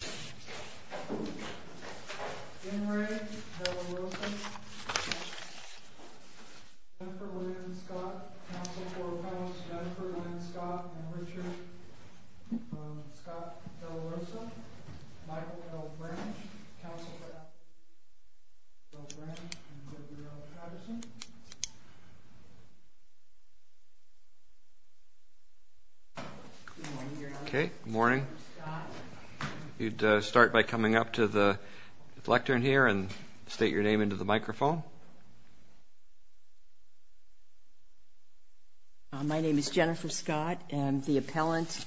BEN RAY, DE LA ROSSA, DENNIS SHIELDS Army County Sheriff's Division Okay, morning. You'd start by coming up to the lectern here and state your name into the microphone. My name is Jennifer Scott and the appellant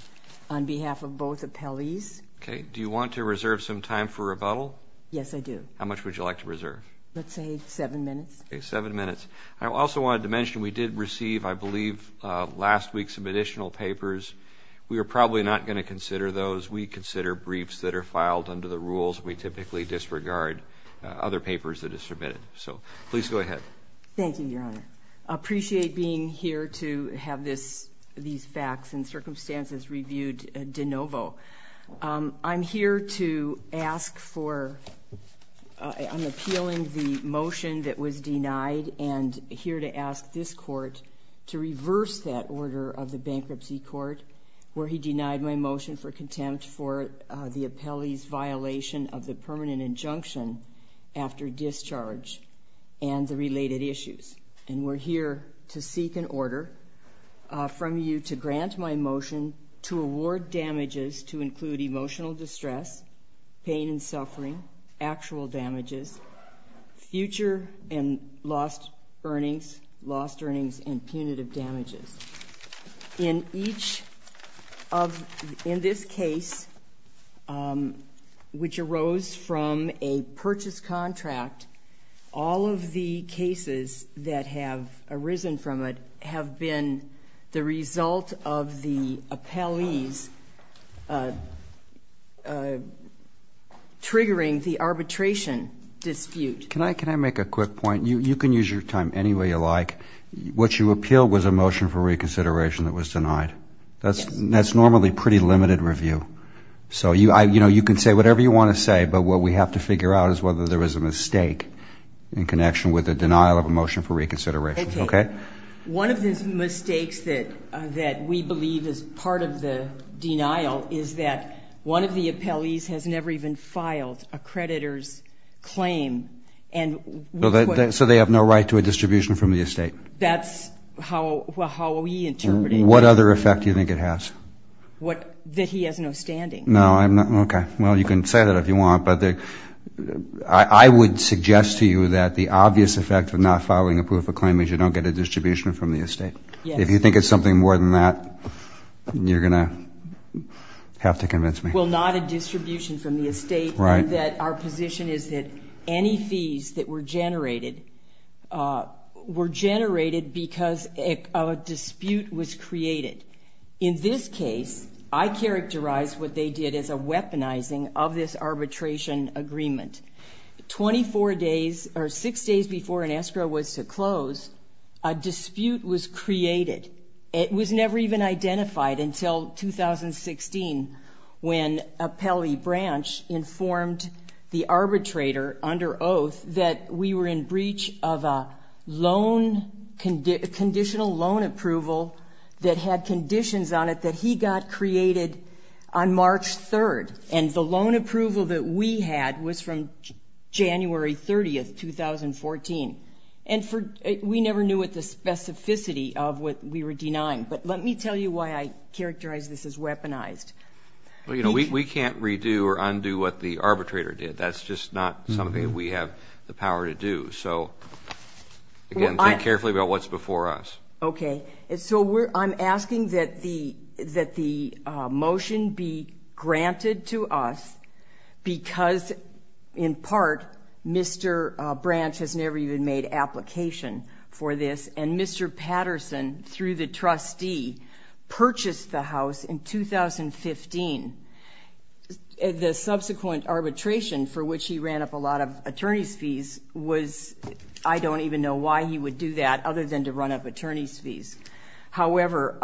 on behalf of both appellees. Okay, do you want to reserve some time for rebuttal? Yes, I do. How much would you like to reserve? Let's say seven minutes. Okay, seven minutes. I also wanted to mention we did receive, I believe, last week some additional papers. We are consider briefs that are filed under the rules. We typically disregard other papers that are submitted. So please go ahead. Thank you, Your Honor. I appreciate being here to have these facts and circumstances reviewed de novo. I'm here to ask for, I'm appealing the motion that was denied and here to ask this court to reverse that order of the Bankruptcy Court where he denied my motion for contempt for the appellee's violation of the permanent injunction after discharge and the related issues. And we're here to seek an order from you to grant my motion to award damages to include emotional distress, pain and suffering, actual damages, future and lost earnings, lost earnings and punitive damages. In this case, which arose from a purchase contract, all of the cases that have arisen from it have been the result of the appellee's triggering the arbitration dispute. Can I make a quick point? You can use your time anyway you like. What you appealed was a motion for reconsideration that was denied. That's normally pretty limited review. So you know, you can say whatever you want to say, but what we have to figure out is whether there was a mistake in connection with the denial of a motion for reconsideration. Okay? One of the mistakes that we believe is part of the denial is that one of the appellees has never even filed a creditor's claim. So they have no right to a distribution from the estate. That's how we interpret it. What other effect do you think it has? That he has no standing. No, I'm not, okay. Well, you can say that if you want, but I would suggest to you that the obvious effect of not filing a proof of claim is you don't get a distribution from the estate. If you think it's something more than that, you're going to have to convince me. Well, not a distribution from the estate, and that our position is that any fees that were generated were generated because of a dispute was created. In this case, I characterize what they did as a weaponizing of this arbitration agreement. Twenty-four days or six days before an escrow was to close, a dispute was created. It was never even identified until 2016 when the appellee branch informed the arbitrator under oath that we were in breach of a loan, conditional loan approval that had conditions on it that he got created on March 3rd. And the loan approval that we had was from January 30th, 2014. And we never knew what the specificity of what we were denying. But let me tell you why I characterize this as weaponized. Well, you know, we can't redo or undo what the arbitrator did. That's just not something that we have the power to do. So, again, think carefully about what's before us. Okay, so I'm asking that the motion be granted to us because, in part, Mr. Branch has purchased the house in 2015. The subsequent arbitration for which he ran up a lot of attorney's fees was, I don't even know why he would do that other than to run up attorney's fees. However,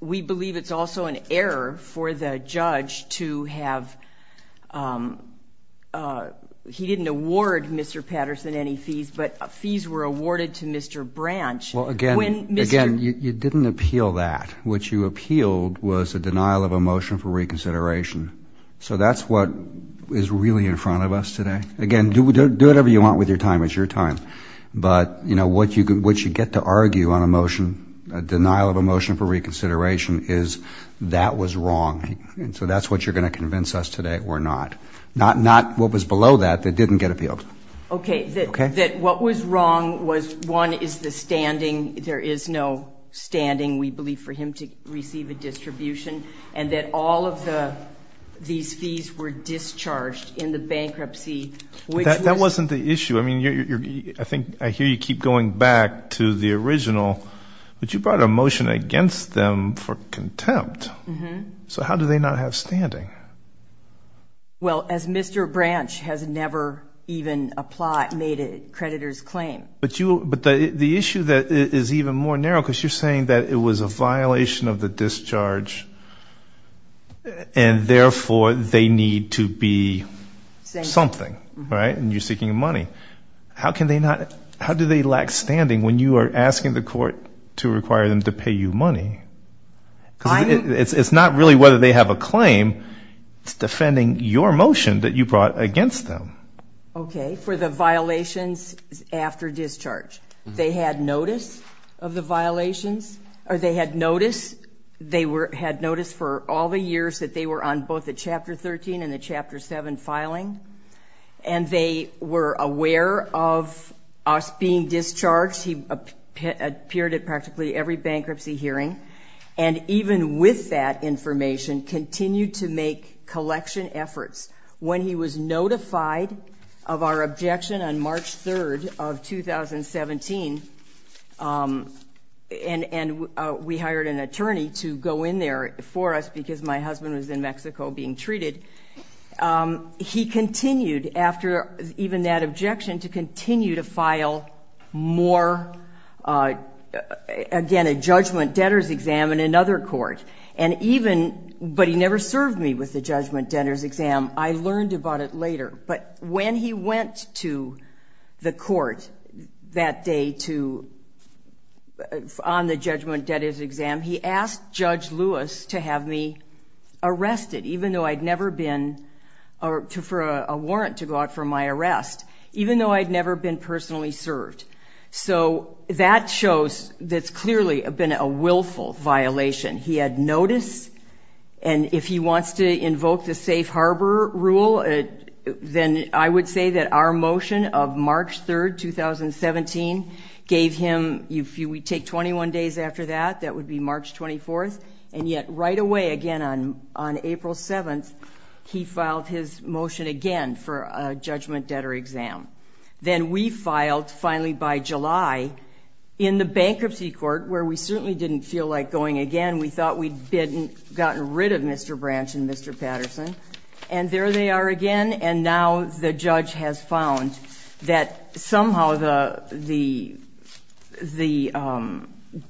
we believe it's also an error for the judge to have, he didn't award Mr. Patterson any fees, but fees were You didn't appeal that. What you appealed was a denial of a motion for reconsideration. So that's what is really in front of us today. Again, do whatever you want with your time. It's your time. But, you know, what you get to argue on a motion, a denial of a motion for reconsideration, is that was wrong. And so that's what you're going to convince us today or not. Not what was below that that didn't get appealed. Okay, that what was wrong was, one, is the standing, we believe, for him to receive a distribution and that all of the these fees were discharged in the bankruptcy. That wasn't the issue. I mean, I think, I hear you keep going back to the original, but you brought a motion against them for contempt. So how do they not have standing? Well, as Mr. Branch has never even applied, made a creditor's claim. But you, but the issue that is even more narrow, because you're saying that it was a violation of the discharge and therefore they need to be something, right? And you're seeking money. How can they not, how do they lack standing when you are asking the court to require them to pay you money? It's not really whether they have a claim, it's defending your motion that you brought against them. Okay, for the of the violations, or they had notice, they were, had notice for all the years that they were on both the Chapter 13 and the Chapter 7 filing. And they were aware of us being discharged. He appeared at practically every bankruptcy hearing and even with that information, continued to make collection efforts. When he was and we hired an attorney to go in there for us because my husband was in Mexico being treated, he continued after even that objection to continue to file more, again, a judgment debtors exam in another court. And even, but he never served me with the judgment debtors exam. I learned about it later. But when he went to the on the judgment debtors exam, he asked Judge Lewis to have me arrested, even though I'd never been, or for a warrant to go out for my arrest, even though I'd never been personally served. So that shows that's clearly been a willful violation. He had notice. And if he wants to invoke the safe harbor rule, then I would say that our motion of March 3rd, 2017 gave him, if we take 21 days after that, that would be March 24th. And yet right away again on April 7th, he filed his motion again for a judgment debtor exam. Then we filed finally by July in the bankruptcy court where we certainly didn't feel like going again. We thought we'd gotten rid of Mr. Branch and Mr. Patterson. And there they are again. And now the judge has found that somehow the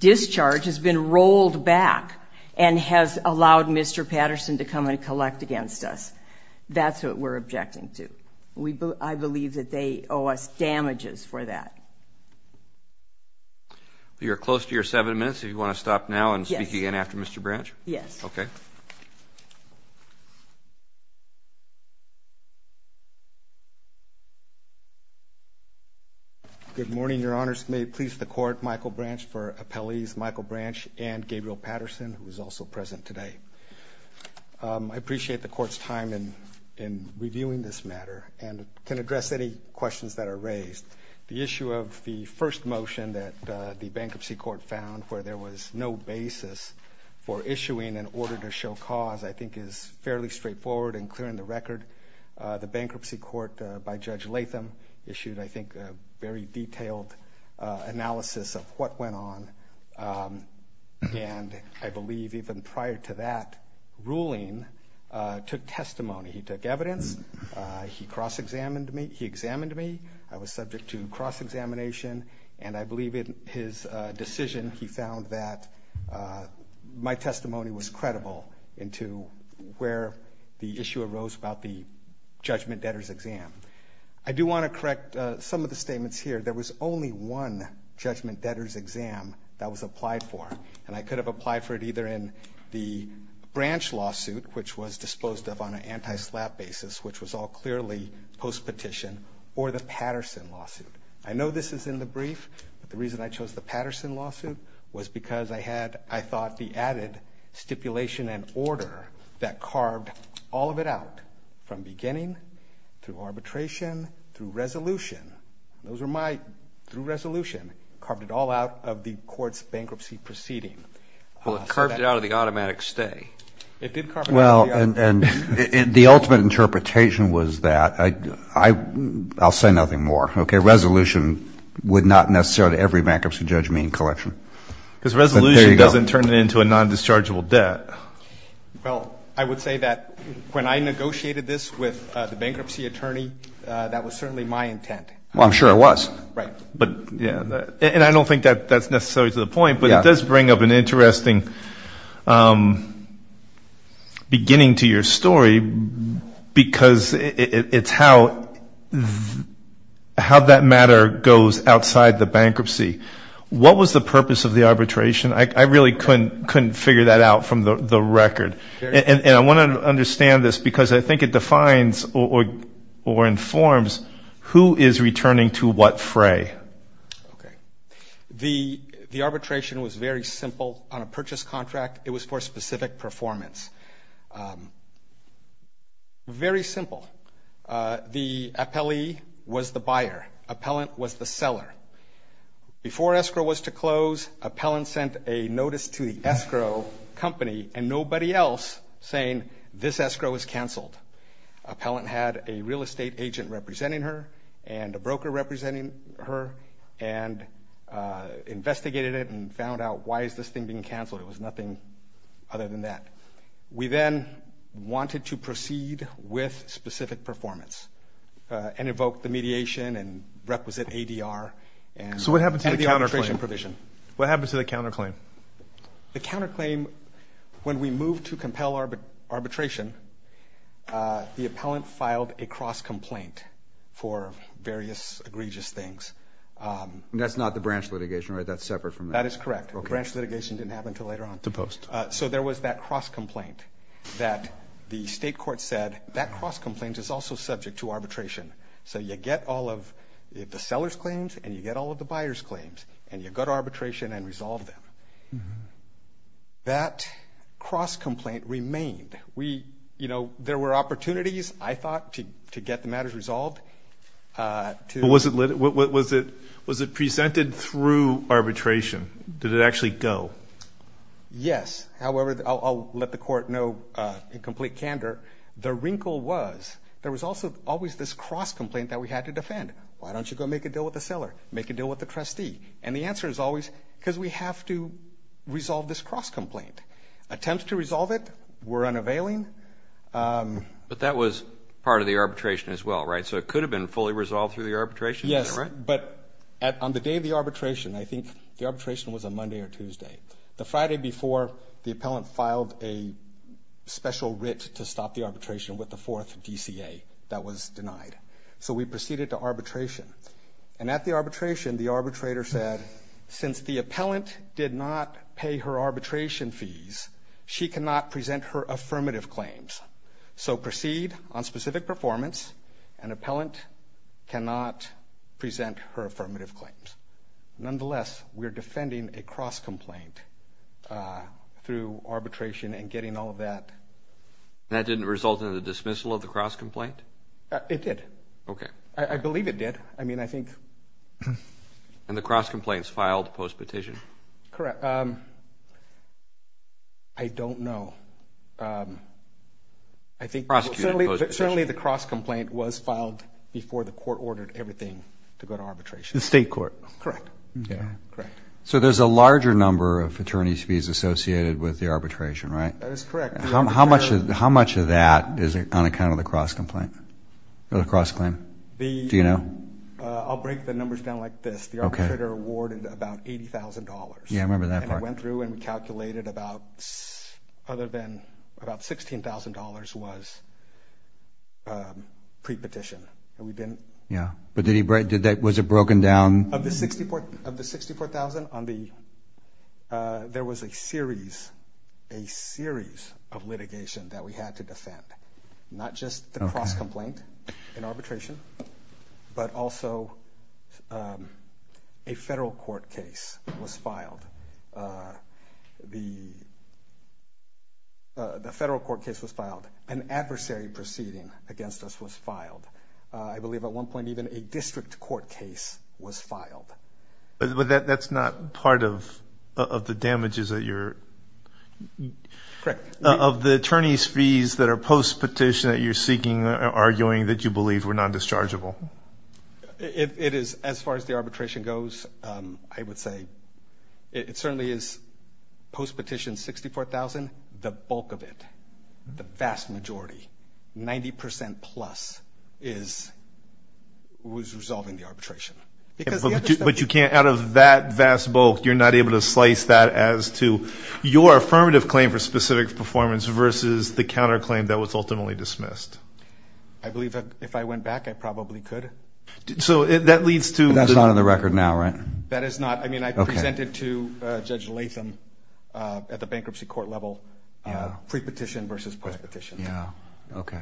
discharge has been rolled back and has allowed Mr. Patterson to come and collect against us. That's what we're objecting to. I believe that they owe us damages for that. You're close to your seven minutes. If you want to stop now and speak again after Mr. Branch? Yes. Okay. Good morning, your honors. May it please the court, Michael Branch for appellees Michael Branch and Gabriel Patterson, who is also present today. I appreciate the court's time in reviewing this matter and can address any questions that are raised. The issue of the first motion that the bankruptcy court found where there was no basis for issuing an order to show cause, I think is fairly straightforward and clear in the record. The bankruptcy court by Judge Latham issued, I think, a very detailed analysis of what went on. And I believe even prior to that ruling took testimony. He took evidence. He cross examined me. He examined me. I was subject to cross examination, and I where the issue arose about the judgment debtors exam. I do want to correct some of the statements here. There was only one judgment debtors exam that was applied for, and I could have applied for it either in the Branch lawsuit, which was disposed of on an anti-slap basis, which was all clearly post petition, or the Patterson lawsuit. I know this is in the brief, but the reason I chose the Patterson lawsuit was because I had, I thought, the added stipulation and order that carved all of it out from beginning, through arbitration, through resolution. Those are my, through resolution, carved it all out of the court's bankruptcy proceeding. Well, it carved it out of the automatic stay. Well, and the ultimate interpretation was that, I'll say nothing more, okay? Resolution would not necessarily every bankruptcy judge mean collection. Because Well, I would say that when I negotiated this with the bankruptcy attorney, that was certainly my intent. Well, I'm sure it was. Right. But, yeah, and I don't think that that's necessarily to the point, but it does bring up an interesting beginning to your story, because it's how that matter goes outside the bankruptcy. What was the purpose of the arbitration? I really couldn't figure that out from the record. And I want to understand this, because I think it defines or informs who is returning to what fray. Okay. The arbitration was very simple on a purchase contract. It was for specific performance. Very simple. The appellee was the buyer. Appellant was the seller. Before escrow was to close, appellant sent a notice to the escrow company and nobody else saying this escrow is cancelled. Appellant had a real estate agent representing her and a broker representing her and investigated it and found out why is this thing being cancelled. It was nothing other than that. We then wanted to proceed with specific performance and evoke the mediation and requisite ADR. So what happened to the counterclaim? The counterclaim, when we moved to compel arbitration, the appellant filed a cross-complaint for various egregious things. That's not the branch litigation, right? That's separate from that. That is correct. Branch litigation didn't happen until later on. To post. So there was that cross-complaint that the state court said that cross-complaint is also subject to arbitration. So you get all of the seller's claims and you get all of the arbitration and resolve them. That cross-complaint remained. We, you know, there were opportunities, I thought, to get the matters resolved. Was it presented through arbitration? Did it actually go? Yes. However, I'll let the court know in complete candor, the wrinkle was there was also always this cross-complaint that we had to defend. Why don't you go make a deal with the court? Because we have to resolve this cross-complaint. Attempt to resolve it were unavailing. But that was part of the arbitration as well, right? So it could have been fully resolved through the arbitration? Yes. But on the day of the arbitration, I think the arbitration was on Monday or Tuesday. The Friday before the appellant filed a special writ to stop the arbitration with the fourth DCA that was denied. So we proceeded to arbitration. And at the arbitration, the appellant did not pay her arbitration fees. She cannot present her affirmative claims. So proceed on specific performance. An appellant cannot present her affirmative claims. Nonetheless, we're defending a cross-complaint through arbitration and getting all of that. That didn't result in the dismissal of the cross-complaint? It did. Okay. I believe it did. I mean, I think. And the cross-competition? Correct. I don't know. I think. Certainly the cross- complaint was filed before the court ordered everything to go to arbitration. The state court. Correct. Okay. Correct. So there's a larger number of attorney's fees associated with the arbitration, right? That is correct. How much of that is on account of the cross-complaint? The cross-claim? Do you know? I'll break the numbers down like this. The arbitrator awarded about $80,000. Yeah, I remember that part. And it went through and we calculated about, other than about $16,000 was pre-petition. And we didn't. Yeah. But was it broken down? Of the $64,000, there was a series, a series of litigation that we had to defend. Not just the cross-complaint in arbitration, but also a federal court case was filed. The federal court case was filed. An adversary proceeding against us was filed. I believe at one point even a district court case was filed. But that's not part of the damages that you're. Correct. Of the attorney's fees that are post-petition that you're seeking or arguing that you believe were non-dischargeable? It is, as far as the arbitration goes, I would say it certainly is post-petition $64,000, the bulk of it, the vast majority, 90% plus is, was resolving the arbitration. But you can't, out of that vast bulk, you're not able to slice that as to your affirmative claim for specific performance versus the counter-claim that was ultimately dismissed. I believe that if I went back, I probably could. So that leads to. That's not on the record now, right? That is not. I mean, I presented to Judge Latham at the bankruptcy court level pre-petition versus post-petition. Yeah. Okay.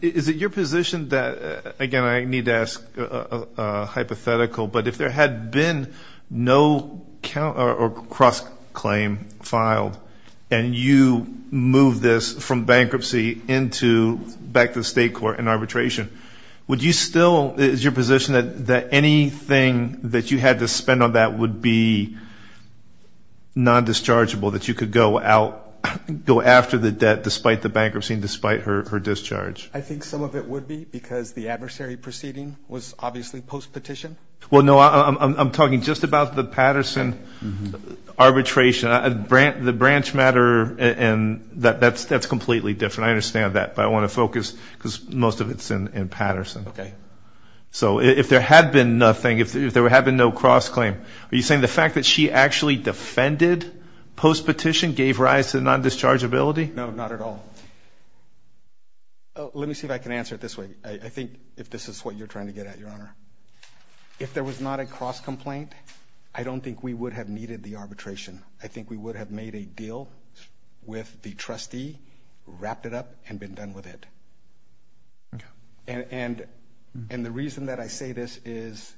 Is it your position that, again, I need to hypothetical, but if there had been no count or cross-claim filed and you move this from bankruptcy into back to the state court and arbitration, would you still, is your position that anything that you had to spend on that would be non-dischargeable, that you could go out, go after the debt despite the bankruptcy and despite her discharge? I think some of it would be because the adversary proceeding was obviously post-petition. Well, no, I'm talking just about the Patterson arbitration. The branch matter and that's completely different. I understand that. But I want to focus because most of it's in Patterson. Okay. So if there had been nothing, if there had been no cross-claim, are you saying the fact that she actually defended post-petition gave rise to non-dischargeability? No, not at all. Let me see if I can answer it this way. I think if this is what you're trying to get at, Your Honor, if there was not a cross-complaint, I don't think we would have needed the arbitration. I think we would have made a deal with the trustee, wrapped it up, and been done with it. Okay. And the reason that I say this is,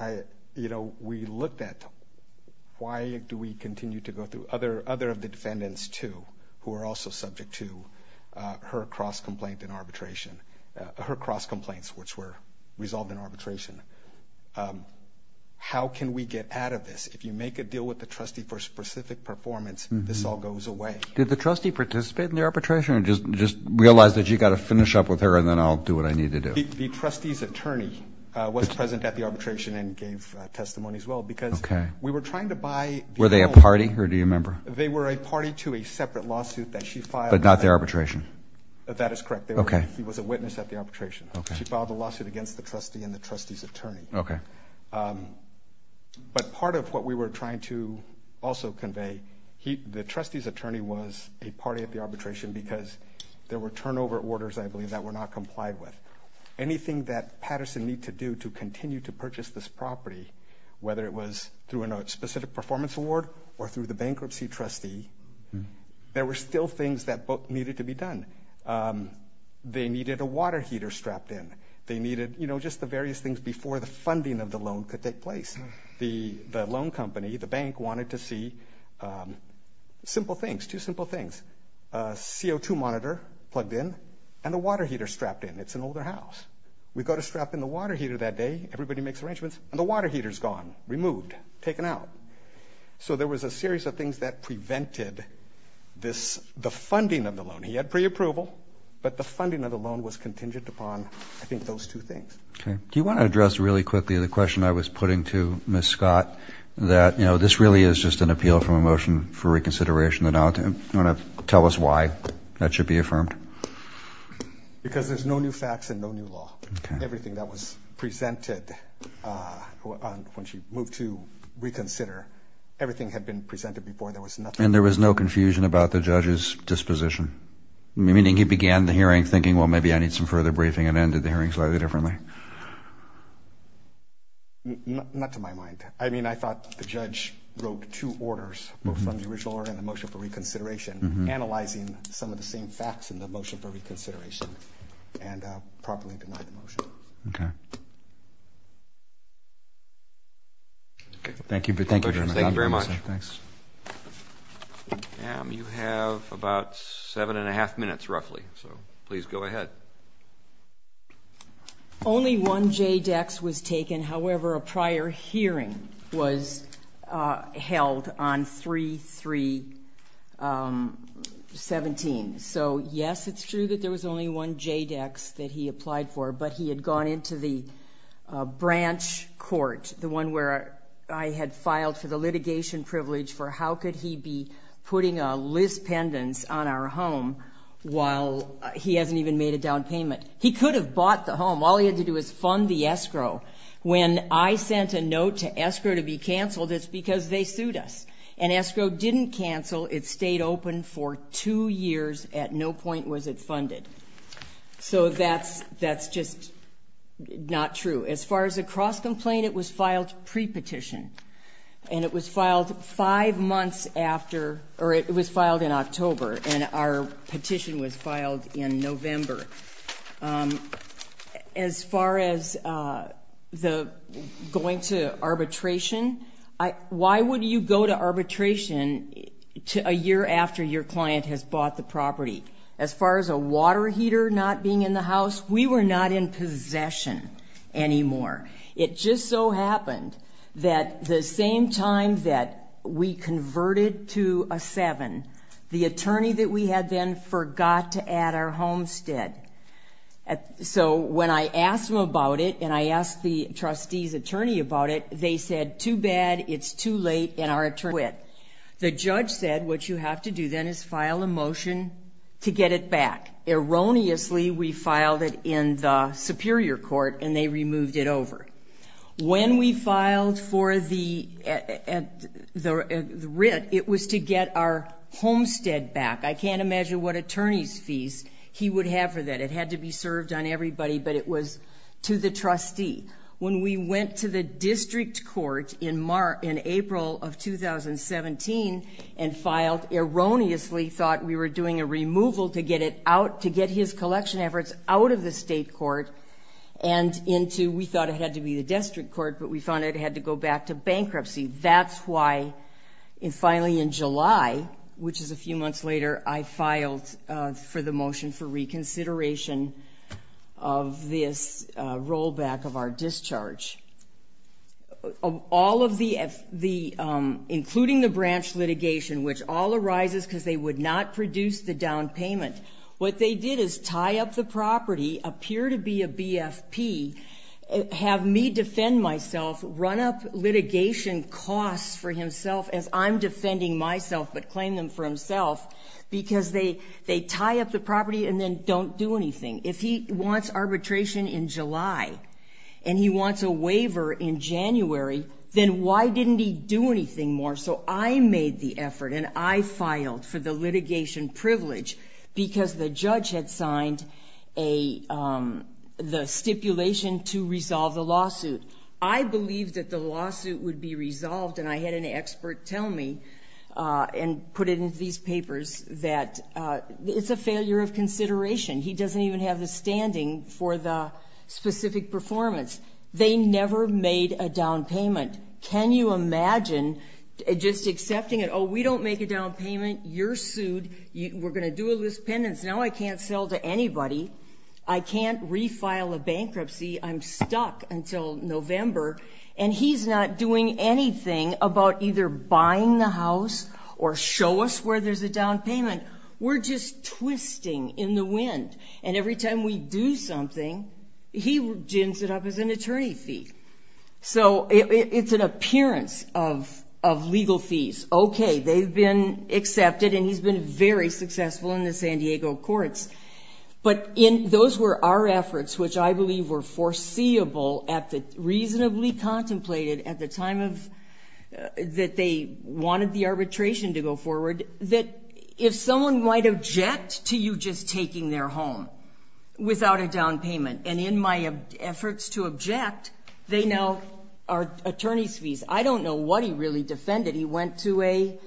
you know, we looked at why do we continue to go through other of the defendants too who are also subject to her cross-complaint in arbitration, her cross-complaints which were resolved in arbitration. How can we get out of this? If you make a deal with the trustee for specific performance, this all goes away. Did the trustee participate in the arbitration or just realize that you've got to finish up with her and then I'll do what I need to do? The trustee's attorney was present at the arbitration and gave testimony as well because we were trying to buy the owner. Were they a party or do you remember? They were a party to a separate lawsuit that she filed? That is correct. He was a witness at the arbitration. She filed a lawsuit against the trustee and the trustee's attorney. Okay. But part of what we were trying to also convey, the trustee's attorney was a party at the arbitration because there were turnover orders, I believe, that were not complied with. Anything that Patterson needed to do to continue to purchase this property, whether it was through a specific performance award or through the They needed a water heater strapped in. They needed just the various things before the funding of the loan could take place. The loan company, the bank, wanted to see simple things, two simple things. A CO2 monitor plugged in and a water heater strapped in. It's an older house. We go to strap in the water heater that day, everybody makes arrangements, and the water heater's gone, removed, taken out. So there was a series of things that prevented the funding of the loan from being available, but the funding of the loan was contingent upon I think those two things. Okay. Do you want to address really quickly the question I was putting to Ms. Scott that, you know, this really is just an appeal from a motion for reconsideration. Do you want to tell us why that should be affirmed? Because there's no new facts and no new law. Okay. Everything that was presented when she moved to reconsider, everything had been presented before. And there was no confusion about the judge's disposition, meaning he began the hearing thinking, well, maybe I need some further briefing and ended the hearing slightly differently. Not to my mind. I mean, I thought the judge wrote two orders, both from the original order and the motion for reconsideration, analyzing some of the same facts in the motion for reconsideration and properly denied the motion. Okay. Thank you. Thank you very much. You have about seven and a half minutes roughly. So please go ahead. Only one JDEX was taken. However, a prior hearing was held on 3-3-17. So, yes, it's true that there was only one JDEX that he applied for, but he had branch court, the one where I had filed for the litigation privilege for how could he be putting a list pendants on our home while he hasn't even made a down payment. He could have bought the home. All he had to do was fund the escrow. When I sent a note to escrow to be canceled, it's because they sued us. And escrow didn't cancel. It stayed open for two years. At no point was it true. As far as the cross complaint, it was filed pre-petition. And it was filed five months after, or it was filed in October. And our petition was filed in November. As far as the going to arbitration, why would you go to arbitration a year after your client has bought the property? As far as a It just so happened that the same time that we converted to a seven, the attorney that we had then forgot to add our homestead. So, when I asked them about it, and I asked the trustee's attorney about it, they said, too bad, it's too late. And our attorney said, what you have to do then is file a removed it over. When we filed for the writ, it was to get our homestead back. I can't imagine what attorney's fees he would have for that. It had to be served on everybody, but it was to the trustee. When we went to the district court in April of 2017 and filed, erroneously thought we were doing a we thought it had to be the district court, but we found it had to go back to bankruptcy. That's why, finally in July, which is a few months later, I filed for the motion for reconsideration of this rollback of our discharge. All of the, including the branch litigation, which all arises because they would not produce the down payment. What they did is tie up the property, appear to be a BFP, have me defend myself, run up litigation costs for himself, as I'm defending myself, but claim them for himself, because they tie up the property and then don't do anything. If he wants arbitration in July, and he wants a waiver in January, then why didn't he do anything more? So, I made the effort, and I filed for the litigation privilege because the stipulation to resolve the lawsuit. I believed that the lawsuit would be resolved, and I had an expert tell me, and put it into these papers, that it's a failure of consideration. He doesn't even have the standing for the specific performance. They never made a down payment. Can you imagine just accepting it, oh, we don't make a down payment, you're sued, we're going to do a sell to anybody, I can't refile a bankruptcy, I'm stuck until November, and he's not doing anything about either buying the house, or show us where there's a down payment. We're just twisting in the wind, and every time we do something, he gins it up as an attorney fee. So, it's an appearance of legal fees. Okay, they've been accepted, and he's been very successful in the San Diego courts, but those were our efforts, which I believe were foreseeable, reasonably contemplated at the time that they wanted the arbitration to go forward, that if someone might object to you just taking their home without a down payment, and in my efforts to object, they now are attorney's fees. I don't know what he really defended. He went to an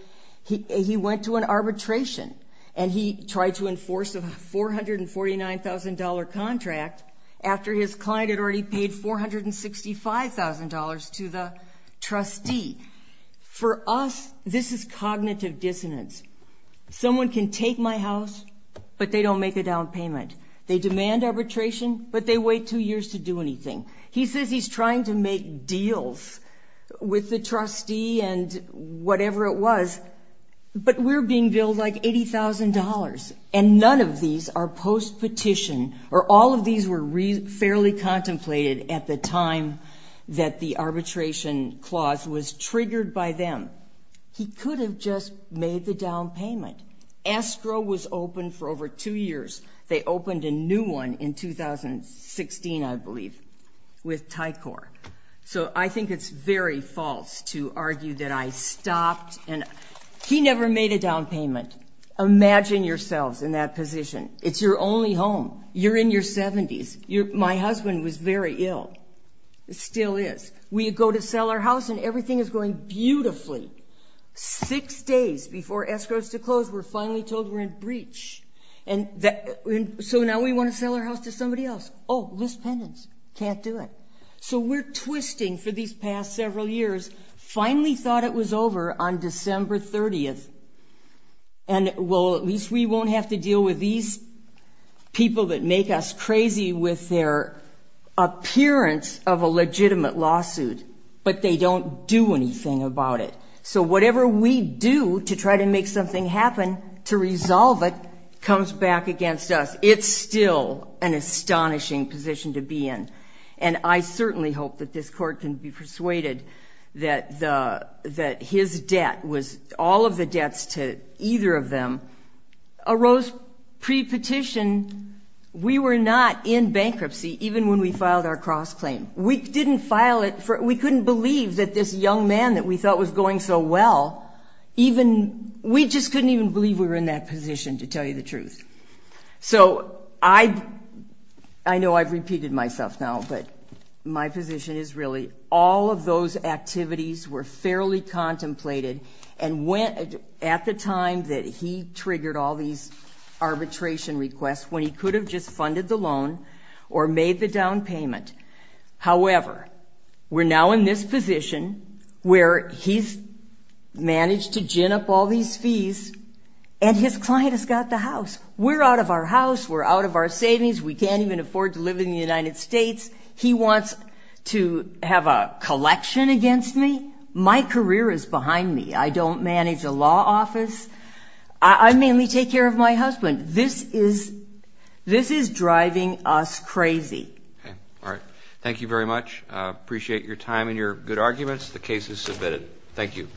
arbitration, and he tried to enforce a $449,000 contract after his client had already paid $465,000 to the trustee. For us, this is cognitive dissonance. Someone can take my house, but they don't make a down payment. They demand arbitration, but they wait two deals with the trustee and whatever it was, but we're being billed like $80,000, and none of these are post-petition, or all of these were fairly contemplated at the time that the arbitration clause was triggered by them. He could have just made the down payment. ASTRO was open for over two years. They opened a new one in 2016, I believe, with Tycor. So I think it's very false to argue that I stopped, and he never made a down payment. Imagine yourselves in that position. It's your only home. You're in your 70s. My husband was very ill, still is. We go to sell our house, and everything is going beautifully. Six days before ASTRO's to close, we're finally told we're in breach. So now we want to sell our house to somebody else. Oh, list pendants. Can't do it. So we're twisting for these past several years, finally thought it was over on December 30th, and well, at least we won't have to deal with these people that make us crazy with their appearance of a legitimate lawsuit, but they don't do anything about it. So whatever we do to try to make something happen, to resolve it, comes back against us. It's still an astonishing position to be in. And I certainly hope that this court can be persuaded that his debt was, all of the debts to either of them, arose pre-petition. We were not in bankruptcy, even when we filed our cross claim. We didn't file it, we couldn't believe that this young man that we saw, we just couldn't even believe we were in that position, to tell you the truth. So I know I've repeated myself now, but my position is really, all of those activities were fairly contemplated, and at the time that he triggered all these arbitration requests, when he could have just funded the loan, or made the down payment. However, we're now in this position, where he's managed to gin up all these fees, and his client has got the house. We're out of our house, we're out of our savings, we can't even afford to live in the United States, he wants to have a collection against me? My career is behind me. I don't manage a Thank you very much. I appreciate your time and your good arguments. The case is submitted. Thank you.